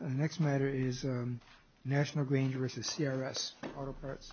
The next matter is National Grange v. CRS Auto Parts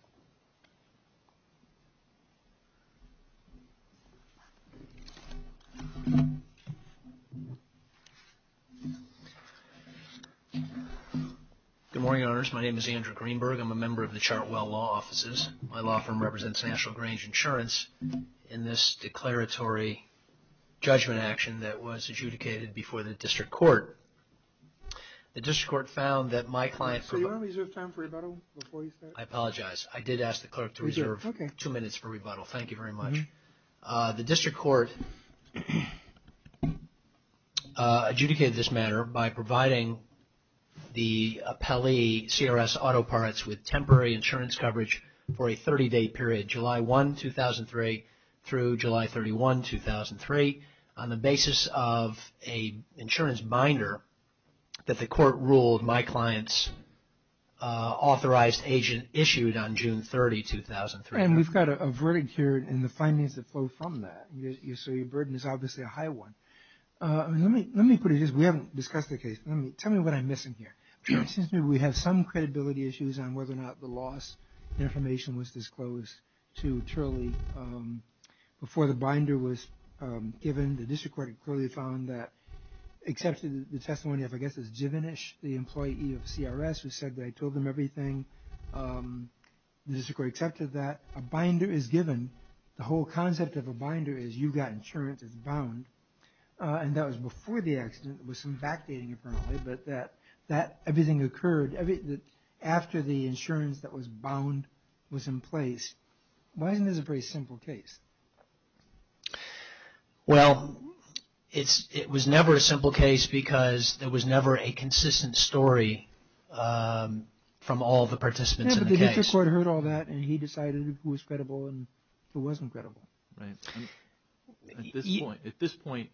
The next matter is National Grange v. CRSAuto Parts The next matter is National Grange v. CRSAuto Parts Mr. Ogimbe, whenever you are ready. Good morning, Your Honors. My name is Andrew Greenberg. I'm a member of the Chartwell Law Offices. My law firm represents National Grange Insurance in this declaratory judgment action that was adjudicated before the District Court. The District Court found that my client... So you want to reserve time for rebuttal before you start? I apologize. I did ask the clerk to reserve two minutes for rebuttal. Thank you very much. The District Court adjudicated this matter by providing the appellee, CRSAuto Parts, with temporary insurance coverage for a 30-day period, July 1, 2003 through July 31, 2003, on the basis of an insurance binder that the court ruled my client's authorized agent issued on June 30, 2003. And we've got a verdict here, and the findings that flow from that. So your burden is obviously a high one. Let me put it this way. We haven't discussed the case. Tell me what I'm missing here. It seems to me we have some credibility issues on whether or not the loss of information was disclosed to Turley. Before the binder was given, the District Court clearly found that, except for the testimony of, I guess it's Givenish, the employee of CRS, who said that I told them everything, the District Court accepted that a binder is given. The whole concept of a binder is you've got insurance, it's bound. And that was before the accident. There was some backdating apparently, but that everything occurred after the insurance that was bound was in place. Why isn't this a pretty simple case? Well, it was never a simple case because there was never a consistent story from all the participants in the case. Yeah, but the District Court heard all that, and he decided who was credible and who wasn't credible. Right. At this point,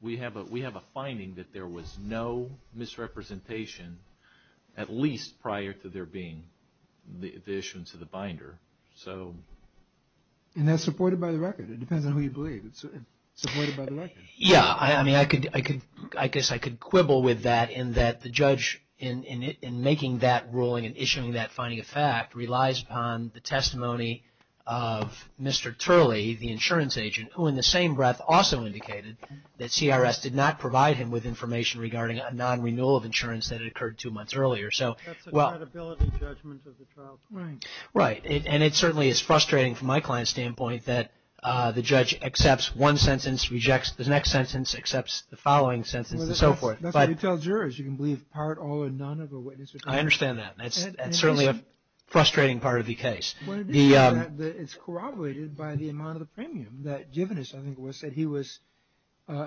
we have a finding that there was no misrepresentation, at least prior to there being the issuance of the binder. And that's supported by the record. It depends on who you believe. It's supported by the record. Yeah, I mean, I guess I could quibble with that in that the judge in making that ruling and issuing that finding of fact relies upon the testimony of Mr. Turley, the insurance agent, who in the same breath also indicated that CRS did not provide him with information regarding a non-renewal of insurance that had occurred two months earlier. That's a credibility judgment of the trial court. Right, and it certainly is frustrating from my client's standpoint that the judge accepts one sentence, rejects the next sentence, accepts the following sentence, and so forth. That's what you tell jurors. You can believe part or none of a witness. I understand that. That's certainly a frustrating part of the case. It's corroborated by the amount of the premium that given us. I think it was said he was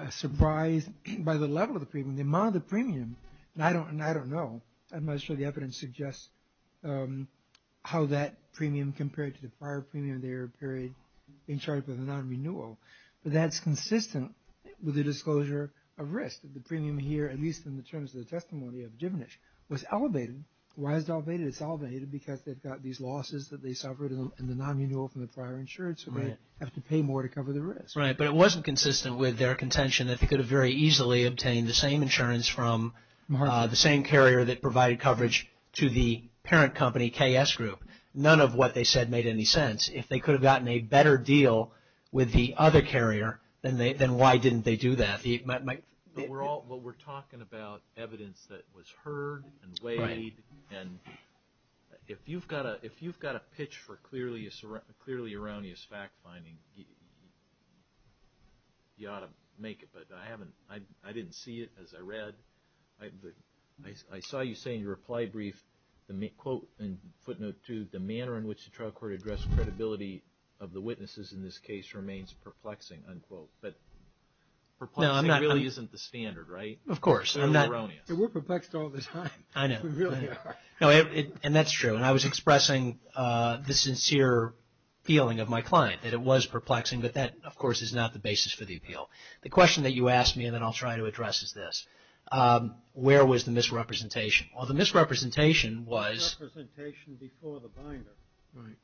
surprised by the level of the premium, the amount of the premium. And I don't know. I'm not sure the evidence suggests how that premium compared to the prior premium in their period in charge of the non-renewal. But that's consistent with the disclosure of risk, that the premium here, at least in the terms of the testimony of Givenish, was elevated. Why is it elevated? It's elevated because they've got these losses that they suffered in the non-renewal from the prior insurance, so they have to pay more to cover the risk. Right, but it wasn't consistent with their contention that they could have very easily obtained the same insurance from the same carrier that provided coverage to the parent company, KS Group. None of what they said made any sense. If they could have gotten a better deal with the other carrier, then why didn't they do that? But we're talking about evidence that was heard and weighed. And if you've got a pitch for clearly erroneous fact-finding, you ought to make it. But I haven't, I didn't see it as I read. I saw you say in your reply brief, quote in footnote two, the manner in which the trial court addressed credibility of the witnesses in this case remains perplexing, unquote. But perplexing really isn't the standard, right? Of course. They're erroneous. We're perplexed all the time. I know. We really are. And that's true. And I was expressing the sincere feeling of my client, that it was perplexing. But that, of course, is not the basis for the appeal. The question that you asked me, and then I'll try to address, is this. Where was the misrepresentation? Well, the misrepresentation was... Misrepresentation before the binder. Right.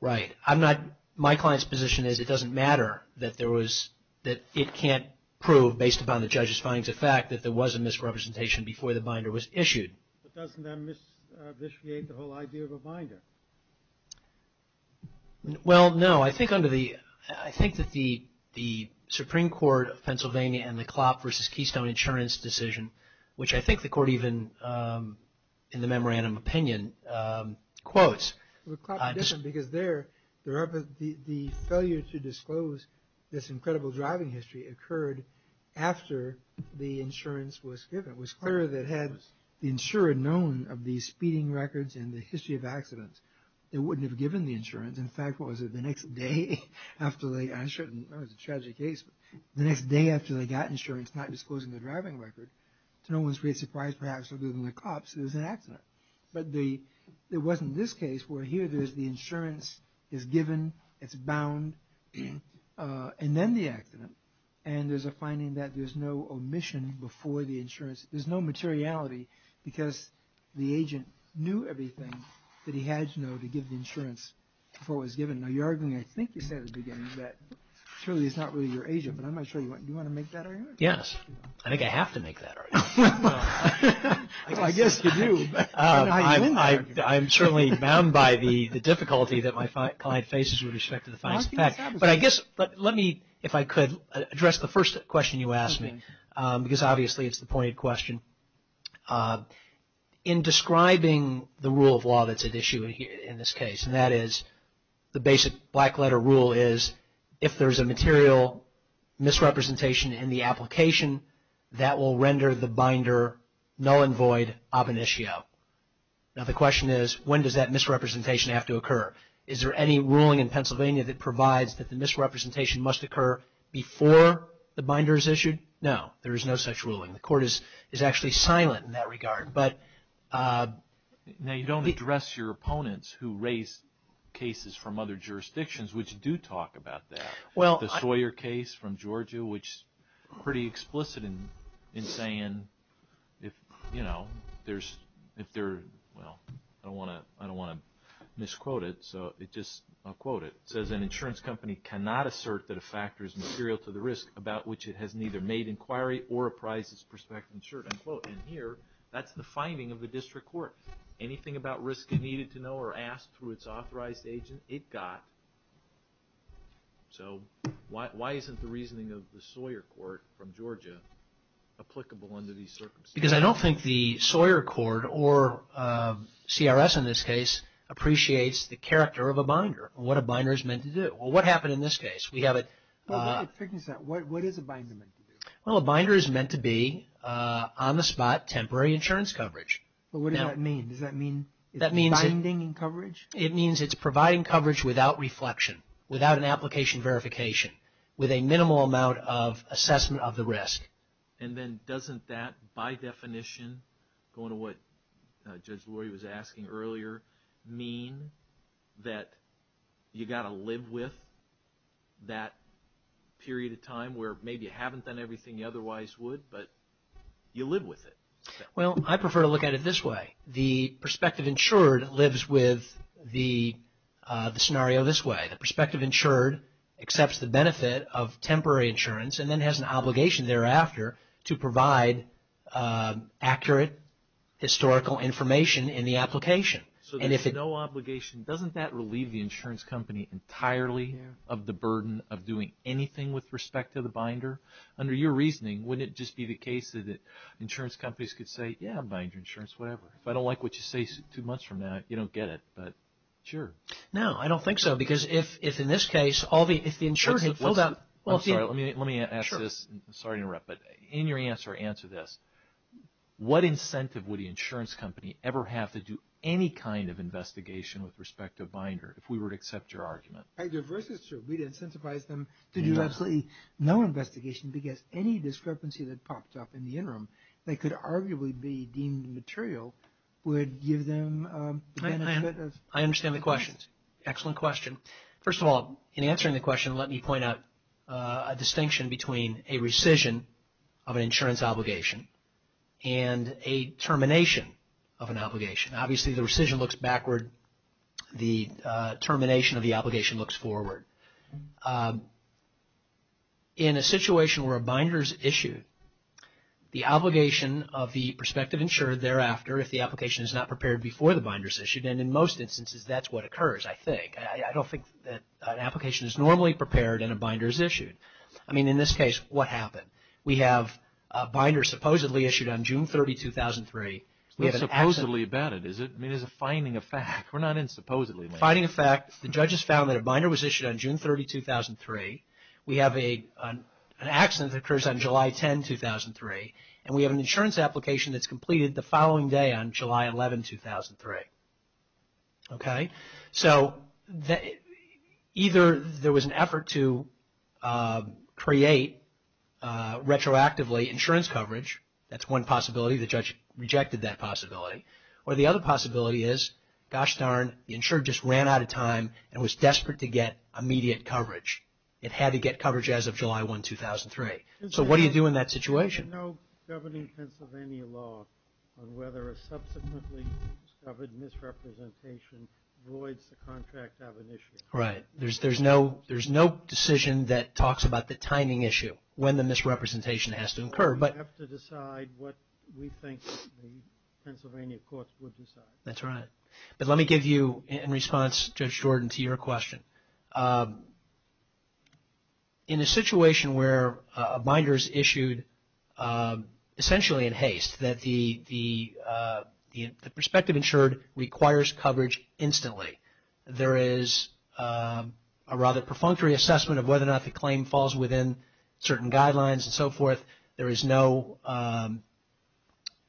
Right. I'm not, my client's position is it doesn't matter that there was, that it can't prove based upon the judge's findings of fact that there was a misrepresentation before the binder was issued. But doesn't that misinitiate the whole idea of a binder? Well, no. I think under the, I think that the Supreme Court of Pennsylvania and the Klopp versus Keystone insurance decision, which I think the court even, in the memorandum opinion, quotes... Well, Klopp and Keystone, because there, the failure to disclose this incredible driving history occurred after the insurance was given. It was clear that had the insurer known of the speeding records and the history of accidents, they wouldn't have given the insurance. In fact, what was it, the next day after they, I shouldn't, that was a tragic case, but the next day after they got insurance not disclosing the driving record, to no one's great surprise, perhaps, other than the cops, there was an accident. But there wasn't this case where here there's the insurance is given, it's bound, and then the accident. And there's a finding that there's no omission before the insurance, there's no materiality because the agent knew everything that he had to know to give the insurance before it was given. Now, you're arguing, I think you said at the beginning, that surely it's not really your agent, but I'm not sure, do you want to make that argument? Yes, I think I have to make that argument. Well, I guess you do. I'm certainly bound by the difficulty that my client faces with respect to the facts. But I guess, let me, if I could, address the first question you asked me, because obviously it's the pointed question. In describing the rule of law that's at issue in this case, and that is the basic black letter rule is, if there's a material misrepresentation in the application, that will render the binder null and void ab initio. Now, the question is, when does that misrepresentation have to occur? Is there any ruling in Pennsylvania that provides that the misrepresentation must occur before the binder is issued? No, there is no such ruling. The court is actually silent in that regard. Now, you don't address your opponents who raise cases from other jurisdictions which do talk about that. The Sawyer case from Georgia, which is pretty explicit in saying, if there's, well, I don't want to misquote it, so I'll quote it. It says, an insurance company cannot assert that a factor is material to the risk about which it has neither made inquiry or apprised its prospective insurer, unquote. And here, that's the finding of the district court. Anything about risk it needed to know or ask through its authorized agent, it got. So, why isn't the reasoning of the Sawyer court from Georgia applicable under these circumstances? Because I don't think the Sawyer court, or CRS in this case, appreciates the character of a binder, or what a binder is meant to do. Well, what happened in this case? Well, what is a binder meant to do? Well, a binder is meant to be on the spot, temporary insurance coverage. Well, what does that mean? Does that mean it's binding in coverage? It means it's providing coverage without reflection, without an application verification, with a minimal amount of assessment of the risk. And then, doesn't that, by definition, going to what Judge Lurie was asking earlier, mean that you got to live with that period of time where maybe you haven't done everything you otherwise would, but you live with it? Well, I prefer to look at it this way. The prospective insured lives with the scenario this way. The prospective insured accepts the benefit of temporary insurance and then has an obligation thereafter to provide accurate historical information in the application. So there's no obligation. Doesn't that relieve the insurance company entirely of the burden of doing anything with respect to the binder? Under your reasoning, wouldn't it just be the case that insurance companies could say, yeah, I'm buying your insurance, whatever. If I don't like what you say two months from now, you don't get it. But, sure. No, I don't think so. Because if, in this case, all the, if the insurance, hold on. I'm sorry, let me ask this. I'm sorry to interrupt, but in your answer, answer this. What incentive would the insurance company ever have to do any kind of investigation with respect to a binder, if we were to accept your argument? Your verse is true. We'd incentivize them to do absolutely no investigation because any discrepancy that popped up in the interim, that could arguably be deemed material, would give them the benefit of... I understand the question. Excellent question. First of all, in answering the question, let me point out a distinction between a rescission of an insurance obligation and a termination of an obligation. Obviously, the rescission looks backward. The termination of the obligation looks forward. In a situation where a binder is issued, the obligation of the prospective insurer thereafter, if the application is not prepared before the binder is issued, and in most instances, that's what occurs, I think. I don't think that an application is normally prepared and a binder is issued. I mean, in this case, what happened? We have a binder supposedly issued on June 30, 2003. What's supposedly about it? I mean, there's a finding of fact. We're not in supposedly. Finding of fact, the judges found that a binder was issued on June 30, 2003. We have an accident that occurs on July 10, 2003, and we have an insurance application that's completed the following day on July 11, 2003. Okay? So either there was an effort to create retroactively insurance coverage. That's one possibility. The judge rejected that possibility. Or the other possibility is, gosh darn, the insurer just ran out of time and was desperate to get immediate coverage. It had to get coverage as of July 1, 2003. So what do you do in that situation? There's no governing Pennsylvania law on whether a subsequently discovered misrepresentation voids the contract of an issue. Right. There's no decision that talks about the timing issue, when the misrepresentation has to occur. We have to decide what we think the Pennsylvania courts would decide. That's right. But let me give you, in response, Judge Jordan, to your question. In a situation where a binder is issued essentially in haste, that the prospective insured requires coverage instantly. There is a rather perfunctory assessment of whether or not the claim falls within certain guidelines and so forth. There is no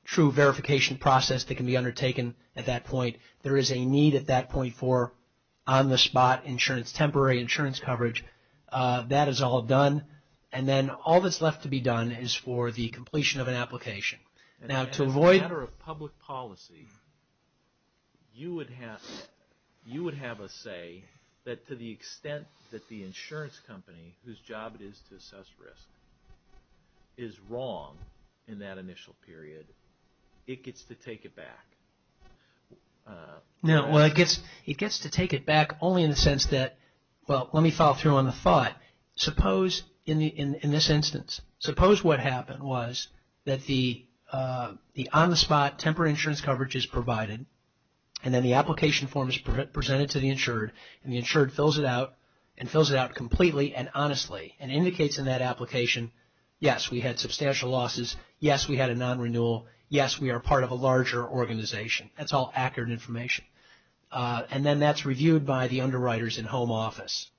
true verification process that can be undertaken at that point. There is a need at that point for on-the-spot insurance, temporary insurance coverage. That is all done. And then all that's left to be done is for the completion of an application. Now to avoid... As a matter of public policy, you would have a say that to the extent that the insurance company, whose job it is to assess risk, is wrong in that initial period, it gets to take it back. No, it gets to take it back only in the sense that... Well, let me follow through on the thought. Suppose in this instance, suppose what happened was that the on-the-spot temporary insurance coverage is provided and then the application form is presented to the insured and the insured fills it out and fills it out completely and honestly and indicates in that application, yes, we had substantial losses, yes, we had a non-renewal, yes, we are part of a larger organization. That's all accurate information. And then that's reviewed by the underwriters in home office.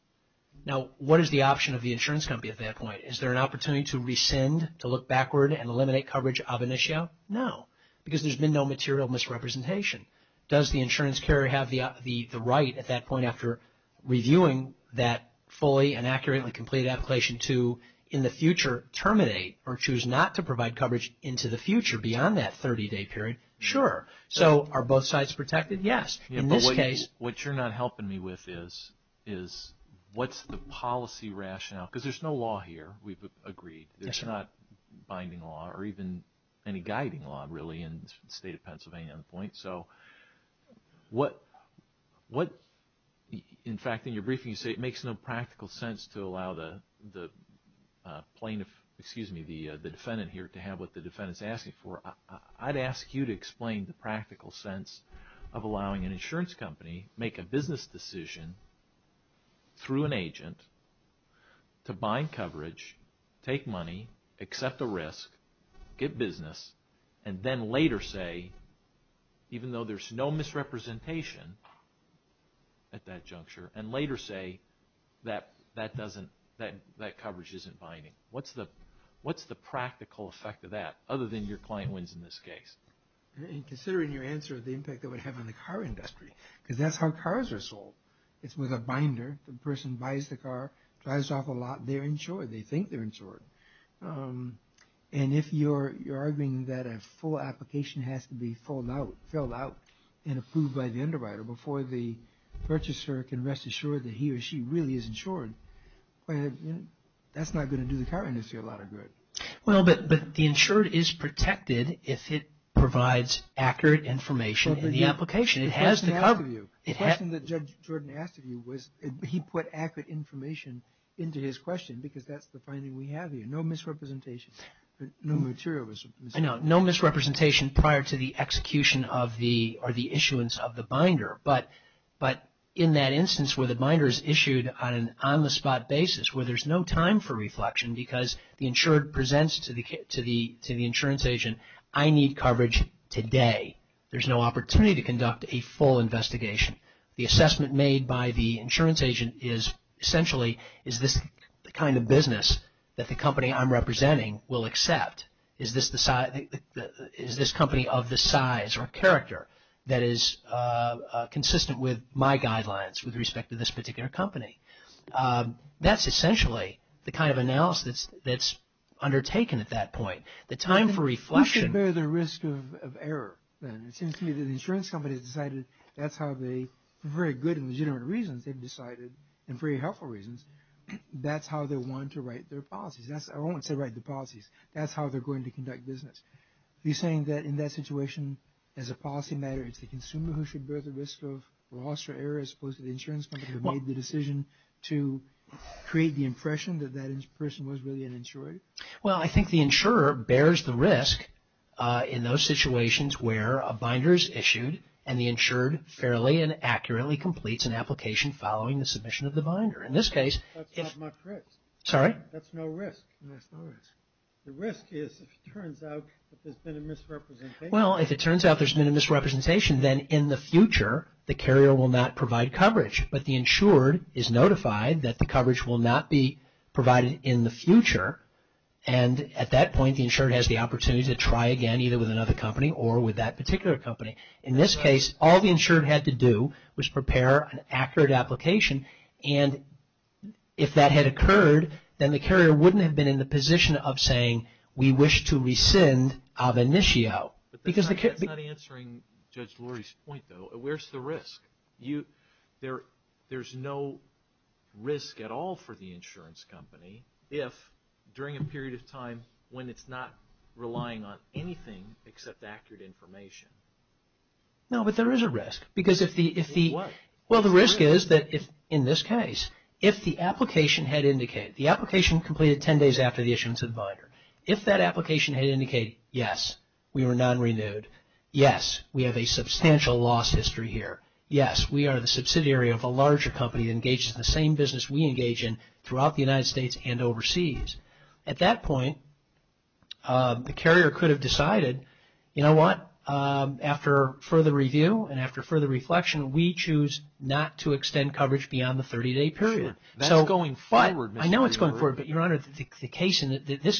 Now what is the option of the insurance company at that point? Is there an opportunity to rescind, to look backward and eliminate coverage of an issue? No, because there's been no material misrepresentation. Does the insurance carrier have the right at that point after reviewing that fully and accurately completed application to in the future terminate or choose not to provide coverage into the future beyond that 30-day period? Sure. So are both sides protected? Yes. In this case... What you're not helping me with is what's the policy rationale? Because there's no law here, we've agreed. There's not binding law or even any guiding law really in the state of Pennsylvania at this point. So what, in fact, in your briefing you say it makes no practical sense to allow the defendant here to have what the defendant is asking for. I'd ask you to explain the practical sense of allowing an insurance company to make a business decision through an agent to bind coverage, take money, accept a risk, get business, and then later say, even though there's no misrepresentation at that juncture, and later say that that coverage isn't binding. What's the practical effect of that other than your client wins in this case? Considering your answer, the impact it would have on the car industry, because that's how cars are sold. It's with a binder. The person buys the car, drives off a lot, they're insured. They think they're insured. And if you're arguing that a full application has to be filled out and approved by the underwriter before the purchaser can rest assured that he or she really is insured, that's not going to do the car industry a lot of good. Well, but the insured is protected if it provides accurate information in the application. The question that Judge Jordan asked of you was he put accurate information into his question because that's the finding we have here. No misrepresentation. No material misrepresentation. No misrepresentation prior to the execution of the or the issuance of the binder. But in that instance where the binder is issued on an on-the-spot basis where there's no time for reflection because the insured presents to the insurance agent, I need coverage today. There's no opportunity to conduct a full investigation. The assessment made by the insurance agent is essentially, is this the kind of business that the company I'm representing will accept? Is this company of the size or character that is consistent with my guidelines with respect to this particular company? That's essentially the kind of analysis that's undertaken at that point. The time for reflection. You should bear the risk of error then. It seems to me that the insurance company has decided that's how they, for very good and legitimate reasons, they've decided and for very helpful reasons, that's how they want to write their policies. I won't say write the policies. That's how they're going to conduct business. Are you saying that in that situation, as a policy matter, it's the consumer who should bear the risk of loss or error as opposed to the insurance company who made the decision to create the impression that that person was really an insurer? Well, I think the insurer bears the risk in those situations where a binder is issued and the insured fairly and accurately completes an application following the submission of the binder. In this case, if… That's not my crit. Sorry? That's no risk. The risk is if it turns out that there's been a misrepresentation. Well, if it turns out there's been a misrepresentation, then in the future the carrier will not provide coverage. But the insured is notified that the coverage will not be provided in the future and at that point the insured has the opportunity to try again either with another company or with that particular company. In this case, all the insured had to do was prepare an accurate application and if that had occurred, then the carrier wouldn't have been in the position of saying, we wish to rescind of initio. But that's not answering Judge Lurie's point though. Where's the risk? There's no risk at all for the insurance company if during a period of time when it's not relying on anything except accurate information. No, but there is a risk. Because if the… Well, what? Well, the risk is that if in this case, if the application had indicated, the application completed 10 days after the issuance of the binder. If that application had indicated, yes, we were non-renewed, yes, we have a substantial loss history here, yes, we are the subsidiary of a larger company engaged in the same business we engage in throughout the United States and overseas. At that point, the carrier could have decided, you know what, after further review and after further reflection, we choose not to extend coverage beyond the 30-day period. That's going forward. I know it's going forward, but, Your Honor, this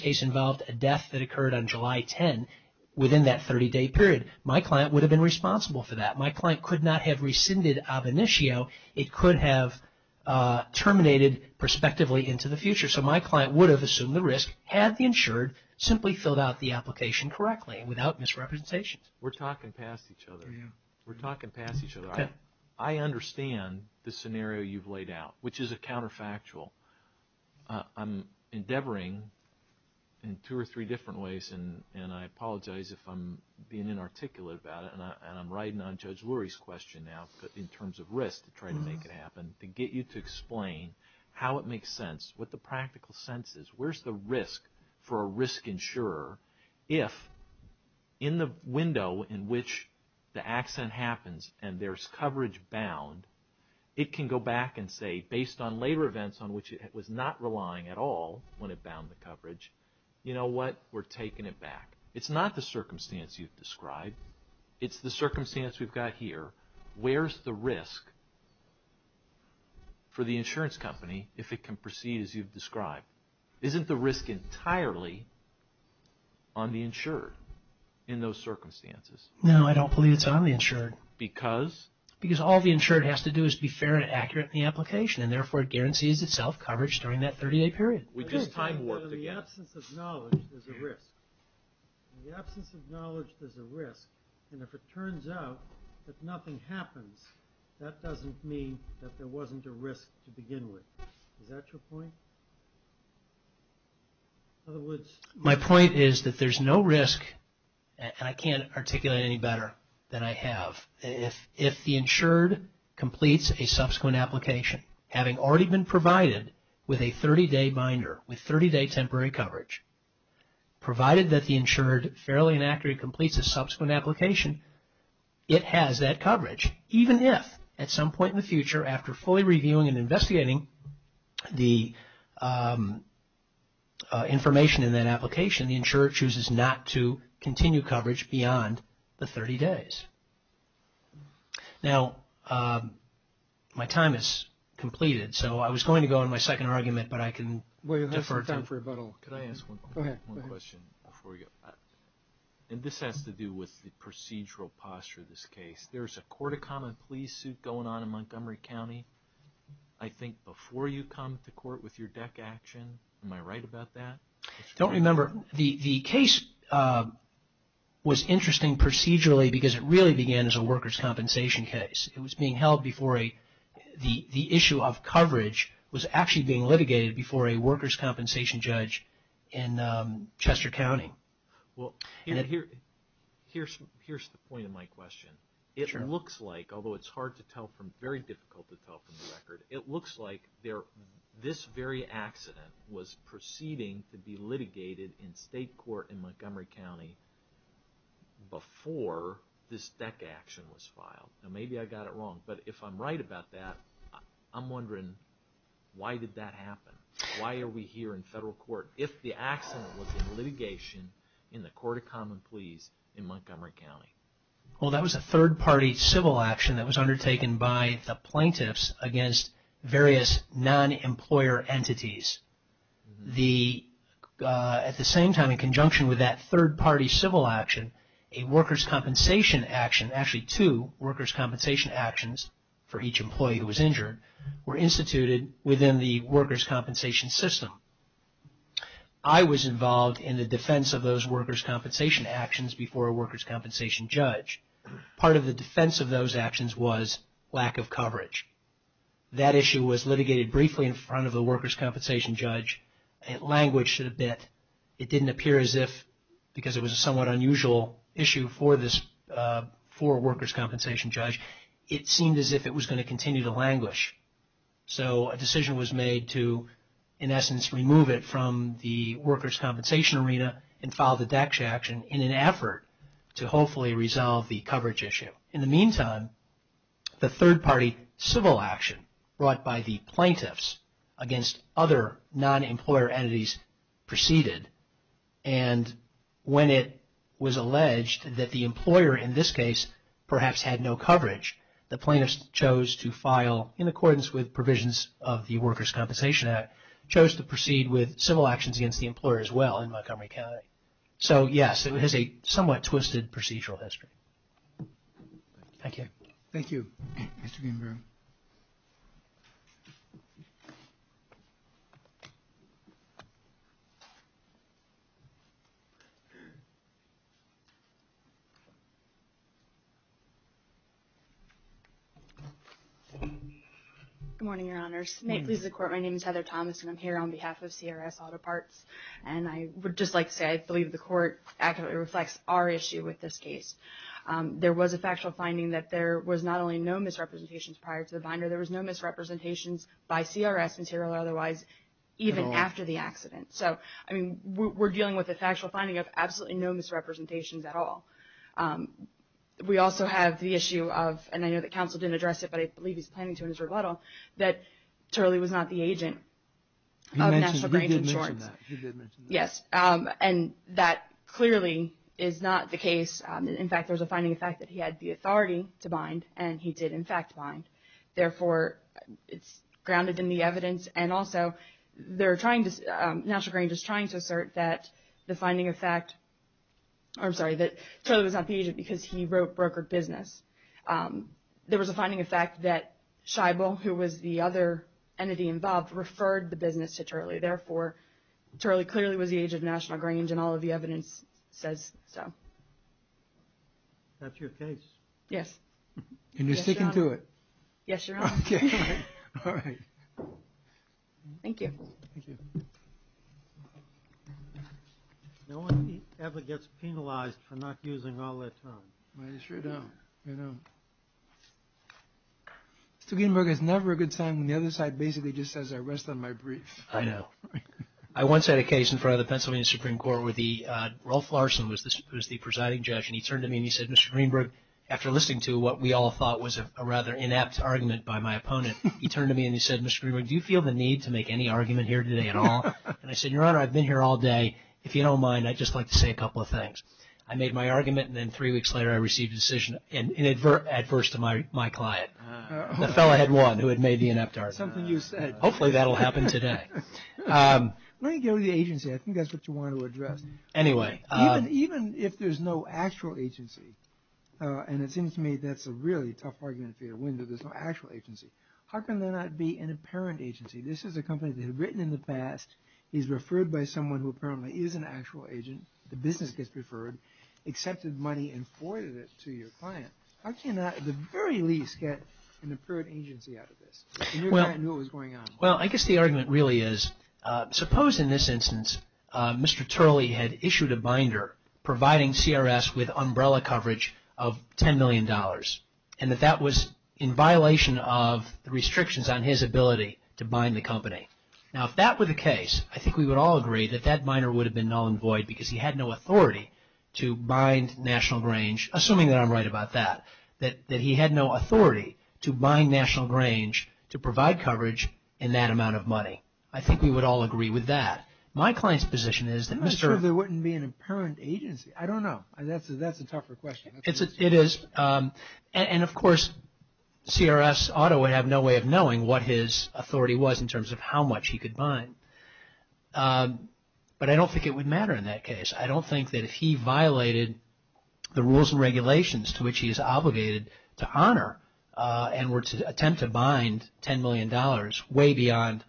case involved a death that occurred on July 10 within that 30-day period. My client would have been responsible for that. My client could not have rescinded of initio. It could have terminated prospectively into the future. So my client would have assumed the risk had the insured simply filled out the application correctly without misrepresentations. We're talking past each other. We're talking past each other. I understand the scenario you've laid out, which is a counterfactual. I'm endeavoring in two or three different ways, and I apologize if I'm being inarticulate about it, and I'm riding on Judge Lurie's question now in terms of risk to try to make it happen, to get you to explain how it makes sense, what the practical sense is. Where's the risk for a risk insurer if, in the window in which the accident happens and there's coverage bound, it can go back and say, based on later events on which it was not relying at all when it bound the coverage, you know what, we're taking it back. It's not the circumstance you've described. It's the circumstance we've got here. Where's the risk for the insurance company if it can proceed as you've described? Isn't the risk entirely on the insured in those circumstances? No, I don't believe it's on the insured. Because? Because all the insured has to do is be fair and accurate in the application, and therefore it guarantees itself coverage during that 30-day period. We just time warped again. In the absence of knowledge, there's a risk. In the absence of knowledge, there's a risk, and if it turns out that nothing happens, that doesn't mean that there wasn't a risk to begin with. Is that your point? My point is that there's no risk, and I can't articulate any better than I have. If the insured completes a subsequent application, having already been provided with a 30-day binder, with 30-day temporary coverage, provided that the insured fairly and accurately completes a subsequent application, it has that coverage, even if at some point in the future, after fully reviewing and investigating the information in that application, the insured chooses not to continue coverage beyond the 30 days. Now, my time is completed, so I was going to go on my second argument, but I can defer to… Well, you'll have some time for rebuttal. Go ahead. Can I ask one question before we go? And this has to do with the procedural posture of this case. There's a court of common pleas suit going on in Montgomery County, I think, before you come to court with your DEC action. Am I right about that? Don't remember. The case was interesting procedurally because it really began as a workers' compensation case. It was being held before the issue of coverage was actually being litigated before a workers' compensation judge in Chester County. Here's the point of my question. It looks like, although it's very difficult to tell from the record, it looks like this very accident was proceeding to be litigated in state court in Montgomery County before this DEC action was filed. Now, maybe I got it wrong, but if I'm right about that, I'm wondering why did that happen? Why are we here in federal court? If the accident was in litigation in the court of common pleas in Montgomery County? Well, that was a third-party civil action that was undertaken by the plaintiffs against various non-employer entities. At the same time, in conjunction with that third-party civil action, a workers' compensation action, actually two workers' compensation actions for each employee who was injured were instituted within the workers' compensation system. I was involved in the defense of those workers' compensation actions before a workers' compensation judge. Part of the defense of those actions was lack of coverage. That issue was litigated briefly in front of the workers' compensation judge. It languished a bit. It didn't appear as if, because it was a somewhat unusual issue for workers' compensation judge, it seemed as if it was going to continue to languish. So, a decision was made to, in essence, remove it from the workers' compensation arena and file the DECSHA action in an effort to hopefully resolve the coverage issue. In the meantime, the third-party civil action brought by the plaintiffs against other non-employer entities proceeded. And when it was alleged that the employer, in this case, perhaps had no coverage, the plaintiffs chose to file in accordance with provisions of the Workers' Compensation Act, chose to proceed with civil actions against the employer as well in Montgomery County. So, yes, it has a somewhat twisted procedural history. Thank you. Thank you, Mr. Greenberg. Good morning, Your Honors. May it please the Court, my name is Heather Thomas, and I'm here on behalf of CRS Auto Parts. And I would just like to say I believe the Court actively reflects our issue with this case. There was a factual finding that there was not only no misrepresentations prior to the binder, there was no misrepresentations by CRS material otherwise, even after the accident. So, I mean, we're dealing with a factual finding of absolutely no misrepresentations at all. We also have the issue of, and I know that counsel didn't address it, but I believe he's planning to in his rebuttal, that Turley was not the agent of National Grand Insurance. He did mention that. Yes, and that clearly is not the case. In fact, there's a finding of fact that he had the authority to bind, and he did, in fact, bind. Therefore, it's grounded in the evidence. And also, they're trying to, National Grand is trying to assert that the finding of fact, I'm sorry, that Turley was not the agent because he wrote brokered business. There was a finding of fact that Scheibel, who was the other entity involved, referred the business to Turley. Therefore, Turley clearly was the agent of National Grand, and all of the evidence says so. That's your case? Yes. And you're sticking to it? Yes, Your Honor. Okay. All right. Thank you. Thank you. No one ever gets penalized for not using all that time. You sure don't. You don't. Mr. Greenberg has never a good time when the other side basically just says, I rest on my brief. I know. I once had a case in front of the Pennsylvania Supreme Court where the, Rolf Larson was the presiding judge, and he turned to me and he said, Mr. Greenberg, after listening to what we all thought was a rather inept argument by my opponent, he turned to me and he said, Mr. Greenberg, do you feel the need to make any argument here today at all? And I said, Your Honor, I've been here all day. If you don't mind, I'd just like to say a couple of things. I made my argument, and then three weeks later I received a decision, and adverse to my client, the fellow who had won, who had made the inept argument. Something you said. Hopefully that will happen today. When you go to the agency, I think that's what you want to address. Anyway. Even if there's no actual agency, and it seems to me that's a really tough argument for your window, there's no actual agency. How can there not be an apparent agency? This is a company that had written in the past. He's referred by someone who apparently is an actual agent. The business gets referred, accepted money, and forwarded it to your client. How can you not at the very least get an apparent agency out of this? And your client knew what was going on. Well, I guess the argument really is, suppose in this instance, Mr. Turley had issued a binder providing CRS with umbrella coverage of $10 million, and that that was in violation of the restrictions on his ability to bind the company. Now, if that were the case, I think we would all agree that that binder would have been null and void because he had no authority to bind National Grange, assuming that I'm right about that, that he had no authority to bind National Grange to provide coverage in that amount of money. I think we would all agree with that. My client's position is that Mr. I'm not sure there wouldn't be an apparent agency. I don't know. That's a tougher question. It is. And of course, CRS ought to have no way of knowing what his authority was in terms of how much he could bind. But I don't think it would matter in that case. I don't think that if he violated the rules and regulations to which he is obligated to honor and were to attempt to bind $10 million way beyond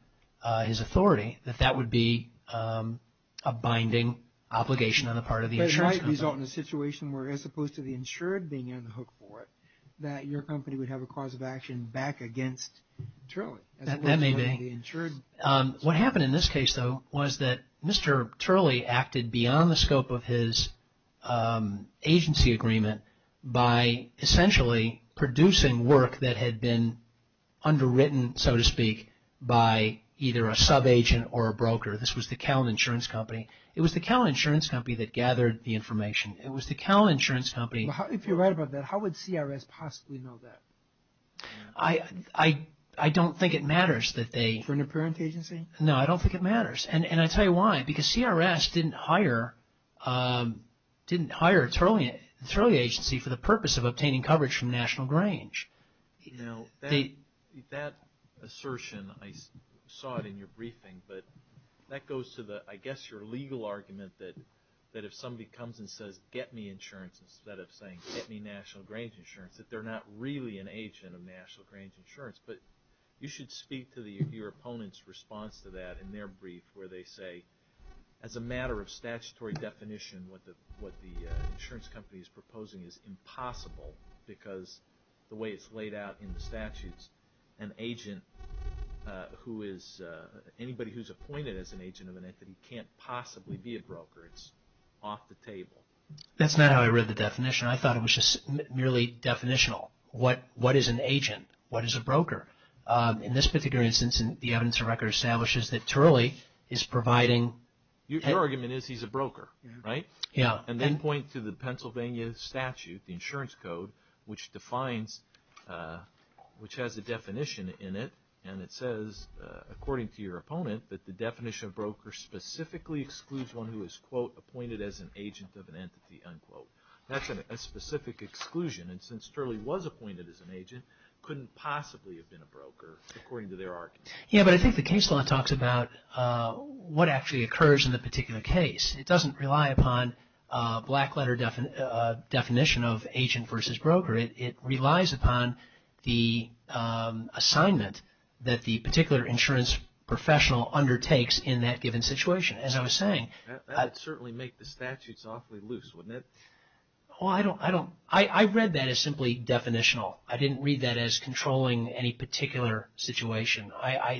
his authority, that that would be a binding obligation on the part of the insurance company. But it might result in a situation where, as opposed to the insured being on the hook for it, that your company would have a cause of action back against Turley. That may be. What happened in this case, though, was that Mr. Turley acted beyond the scope of his agency agreement by essentially producing work that had been underwritten, so to speak, by either a subagent or a broker. This was the Callan Insurance Company. It was the Callan Insurance Company that gathered the information. It was the Callan Insurance Company. If you're right about that, how would CRS possibly know that? I don't think it matters that they… No, I don't think it matters. And I'll tell you why. Because CRS didn't hire Turley Agency for the purpose of obtaining coverage from National Grange. Now, that assertion, I saw it in your briefing, but that goes to the, I guess, your legal argument that if somebody comes and says, get me insurance instead of saying, get me National Grange insurance, that they're not really an agent of National Grange Insurance. But you should speak to your opponent's response to that in their brief where they say, as a matter of statutory definition, what the insurance company is proposing is impossible because the way it's laid out in the statutes, an agent who is… anybody who's appointed as an agent of an entity can't possibly be a broker. It's off the table. That's not how I read the definition. I thought it was just merely definitional. What is an agent? What is a broker? In this particular instance, the evidence of record establishes that Turley is providing… Your argument is he's a broker, right? Yeah. And then point to the Pennsylvania statute, the insurance code, which defines, which has a definition in it, and it says, according to your opponent, that the definition of broker specifically excludes one who is, quote, appointed as an agent of an entity, unquote. That's a specific exclusion. And since Turley was appointed as an agent, couldn't possibly have been a broker, according to their argument. Yeah, but I think the case law talks about what actually occurs in the particular case. It doesn't rely upon a black letter definition of agent versus broker. It relies upon the assignment that the particular insurance professional undertakes in that given situation, as I was saying. That would certainly make the statutes awfully loose, wouldn't it? Well, I don't – I read that as simply definitional. I didn't read that as controlling any particular situation.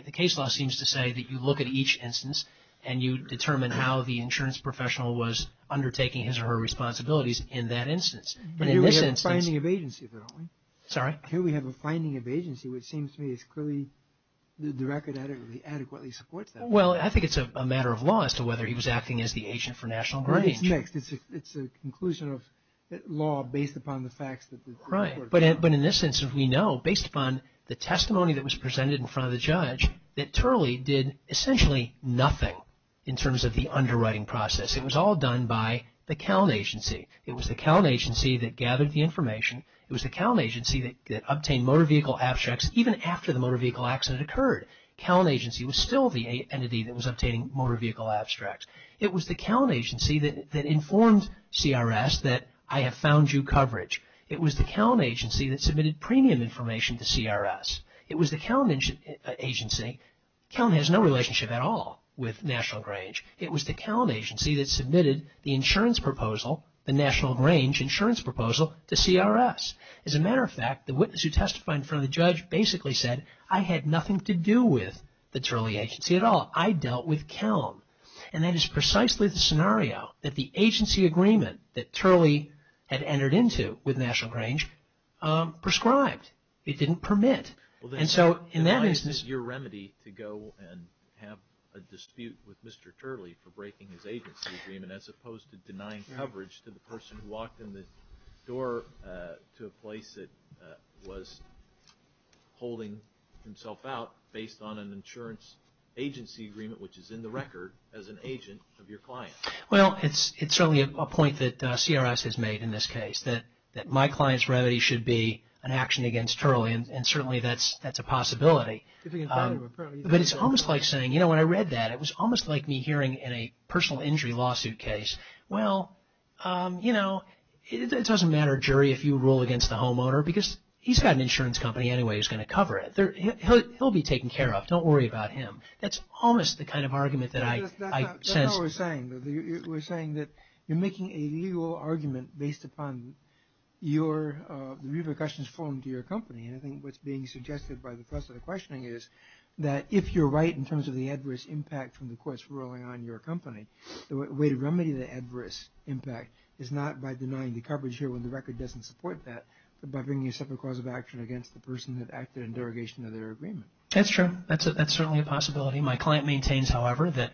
The case law seems to say that you look at each instance and you determine how the insurance professional was undertaking his or her responsibilities in that instance. But in this instance… But here we have a finding of agency, though, don't we? Sorry? Here we have a finding of agency, which seems to me is clearly – the record adequately supports that. Well, I think it's a matter of law as to whether he was acting as the agent for national brokerage. It's mixed. It's a conclusion of law based upon the facts that the court… Right. But in this instance, we know, based upon the testimony that was presented in front of the judge, that Turley did essentially nothing in terms of the underwriting process. It was all done by the Count Agency. It was the Count Agency that gathered the information. It was the Count Agency that obtained motor vehicle abstracts even after the motor vehicle accident occurred. Count Agency was still the entity that was obtaining motor vehicle abstracts. It was the Count Agency that informed CRS that I have found you coverage. It was the Count Agency that submitted premium information to CRS. It was the Count Agency… Count has no relationship at all with National Grange. It was the Count Agency that submitted the insurance proposal, the National Grange insurance proposal, to CRS. As a matter of fact, the witness who testified in front of the judge basically said, I had nothing to do with the Turley Agency at all. I dealt with Count. And that is precisely the scenario that the agency agreement that Turley had entered into with National Grange prescribed. It didn't permit. And so in that instance… Well, then why is it your remedy to go and have a dispute with Mr. Turley for breaking his agency agreement as opposed to denying coverage to the person who walked in the door to a place that was holding himself out based on an insurance agency agreement which is in the record as an agent of your client? Well, it's certainly a point that CRS has made in this case that my client's remedy should be an action against Turley and certainly that's a possibility. But it's almost like saying, you know, when I read that, it was almost like me hearing in a personal injury lawsuit case, well, you know, it doesn't matter, jury, if you rule against the homeowner because he's got an insurance company anyway who's going to cover it. He'll be taken care of, don't worry about him. That's almost the kind of argument that I sense. That's not what we're saying. We're saying that you're making a legal argument based upon the repercussions formed to your company and I think what's being suggested by the press and the questioning is that if you're right in terms of the adverse impact from the courts ruling on your company, the way to remedy the adverse impact is not by denying the coverage here when the record doesn't support that, but by bringing a separate cause of action against the person that acted in derogation of their agreement. That's true. That's certainly a possibility. My client maintains, however, that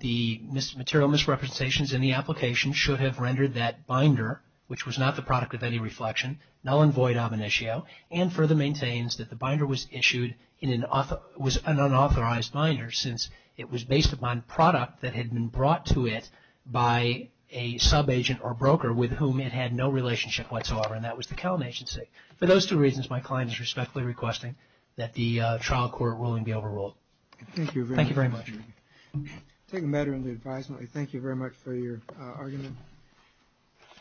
the material misrepresentations in the application should have rendered that binder, which was not the product of any reflection, null and void ominatio, and further maintains that the binder was issued in an unauthorized binder since it was based upon product that had been brought to it by a sub-agent or broker with whom it had no relationship whatsoever and that was the Kellen Agency. For those two reasons, my client is respectfully requesting that the trial court ruling be overruled. Thank you very much. Thank you very much. Take a matter into advisement. Thank you very much for your argument.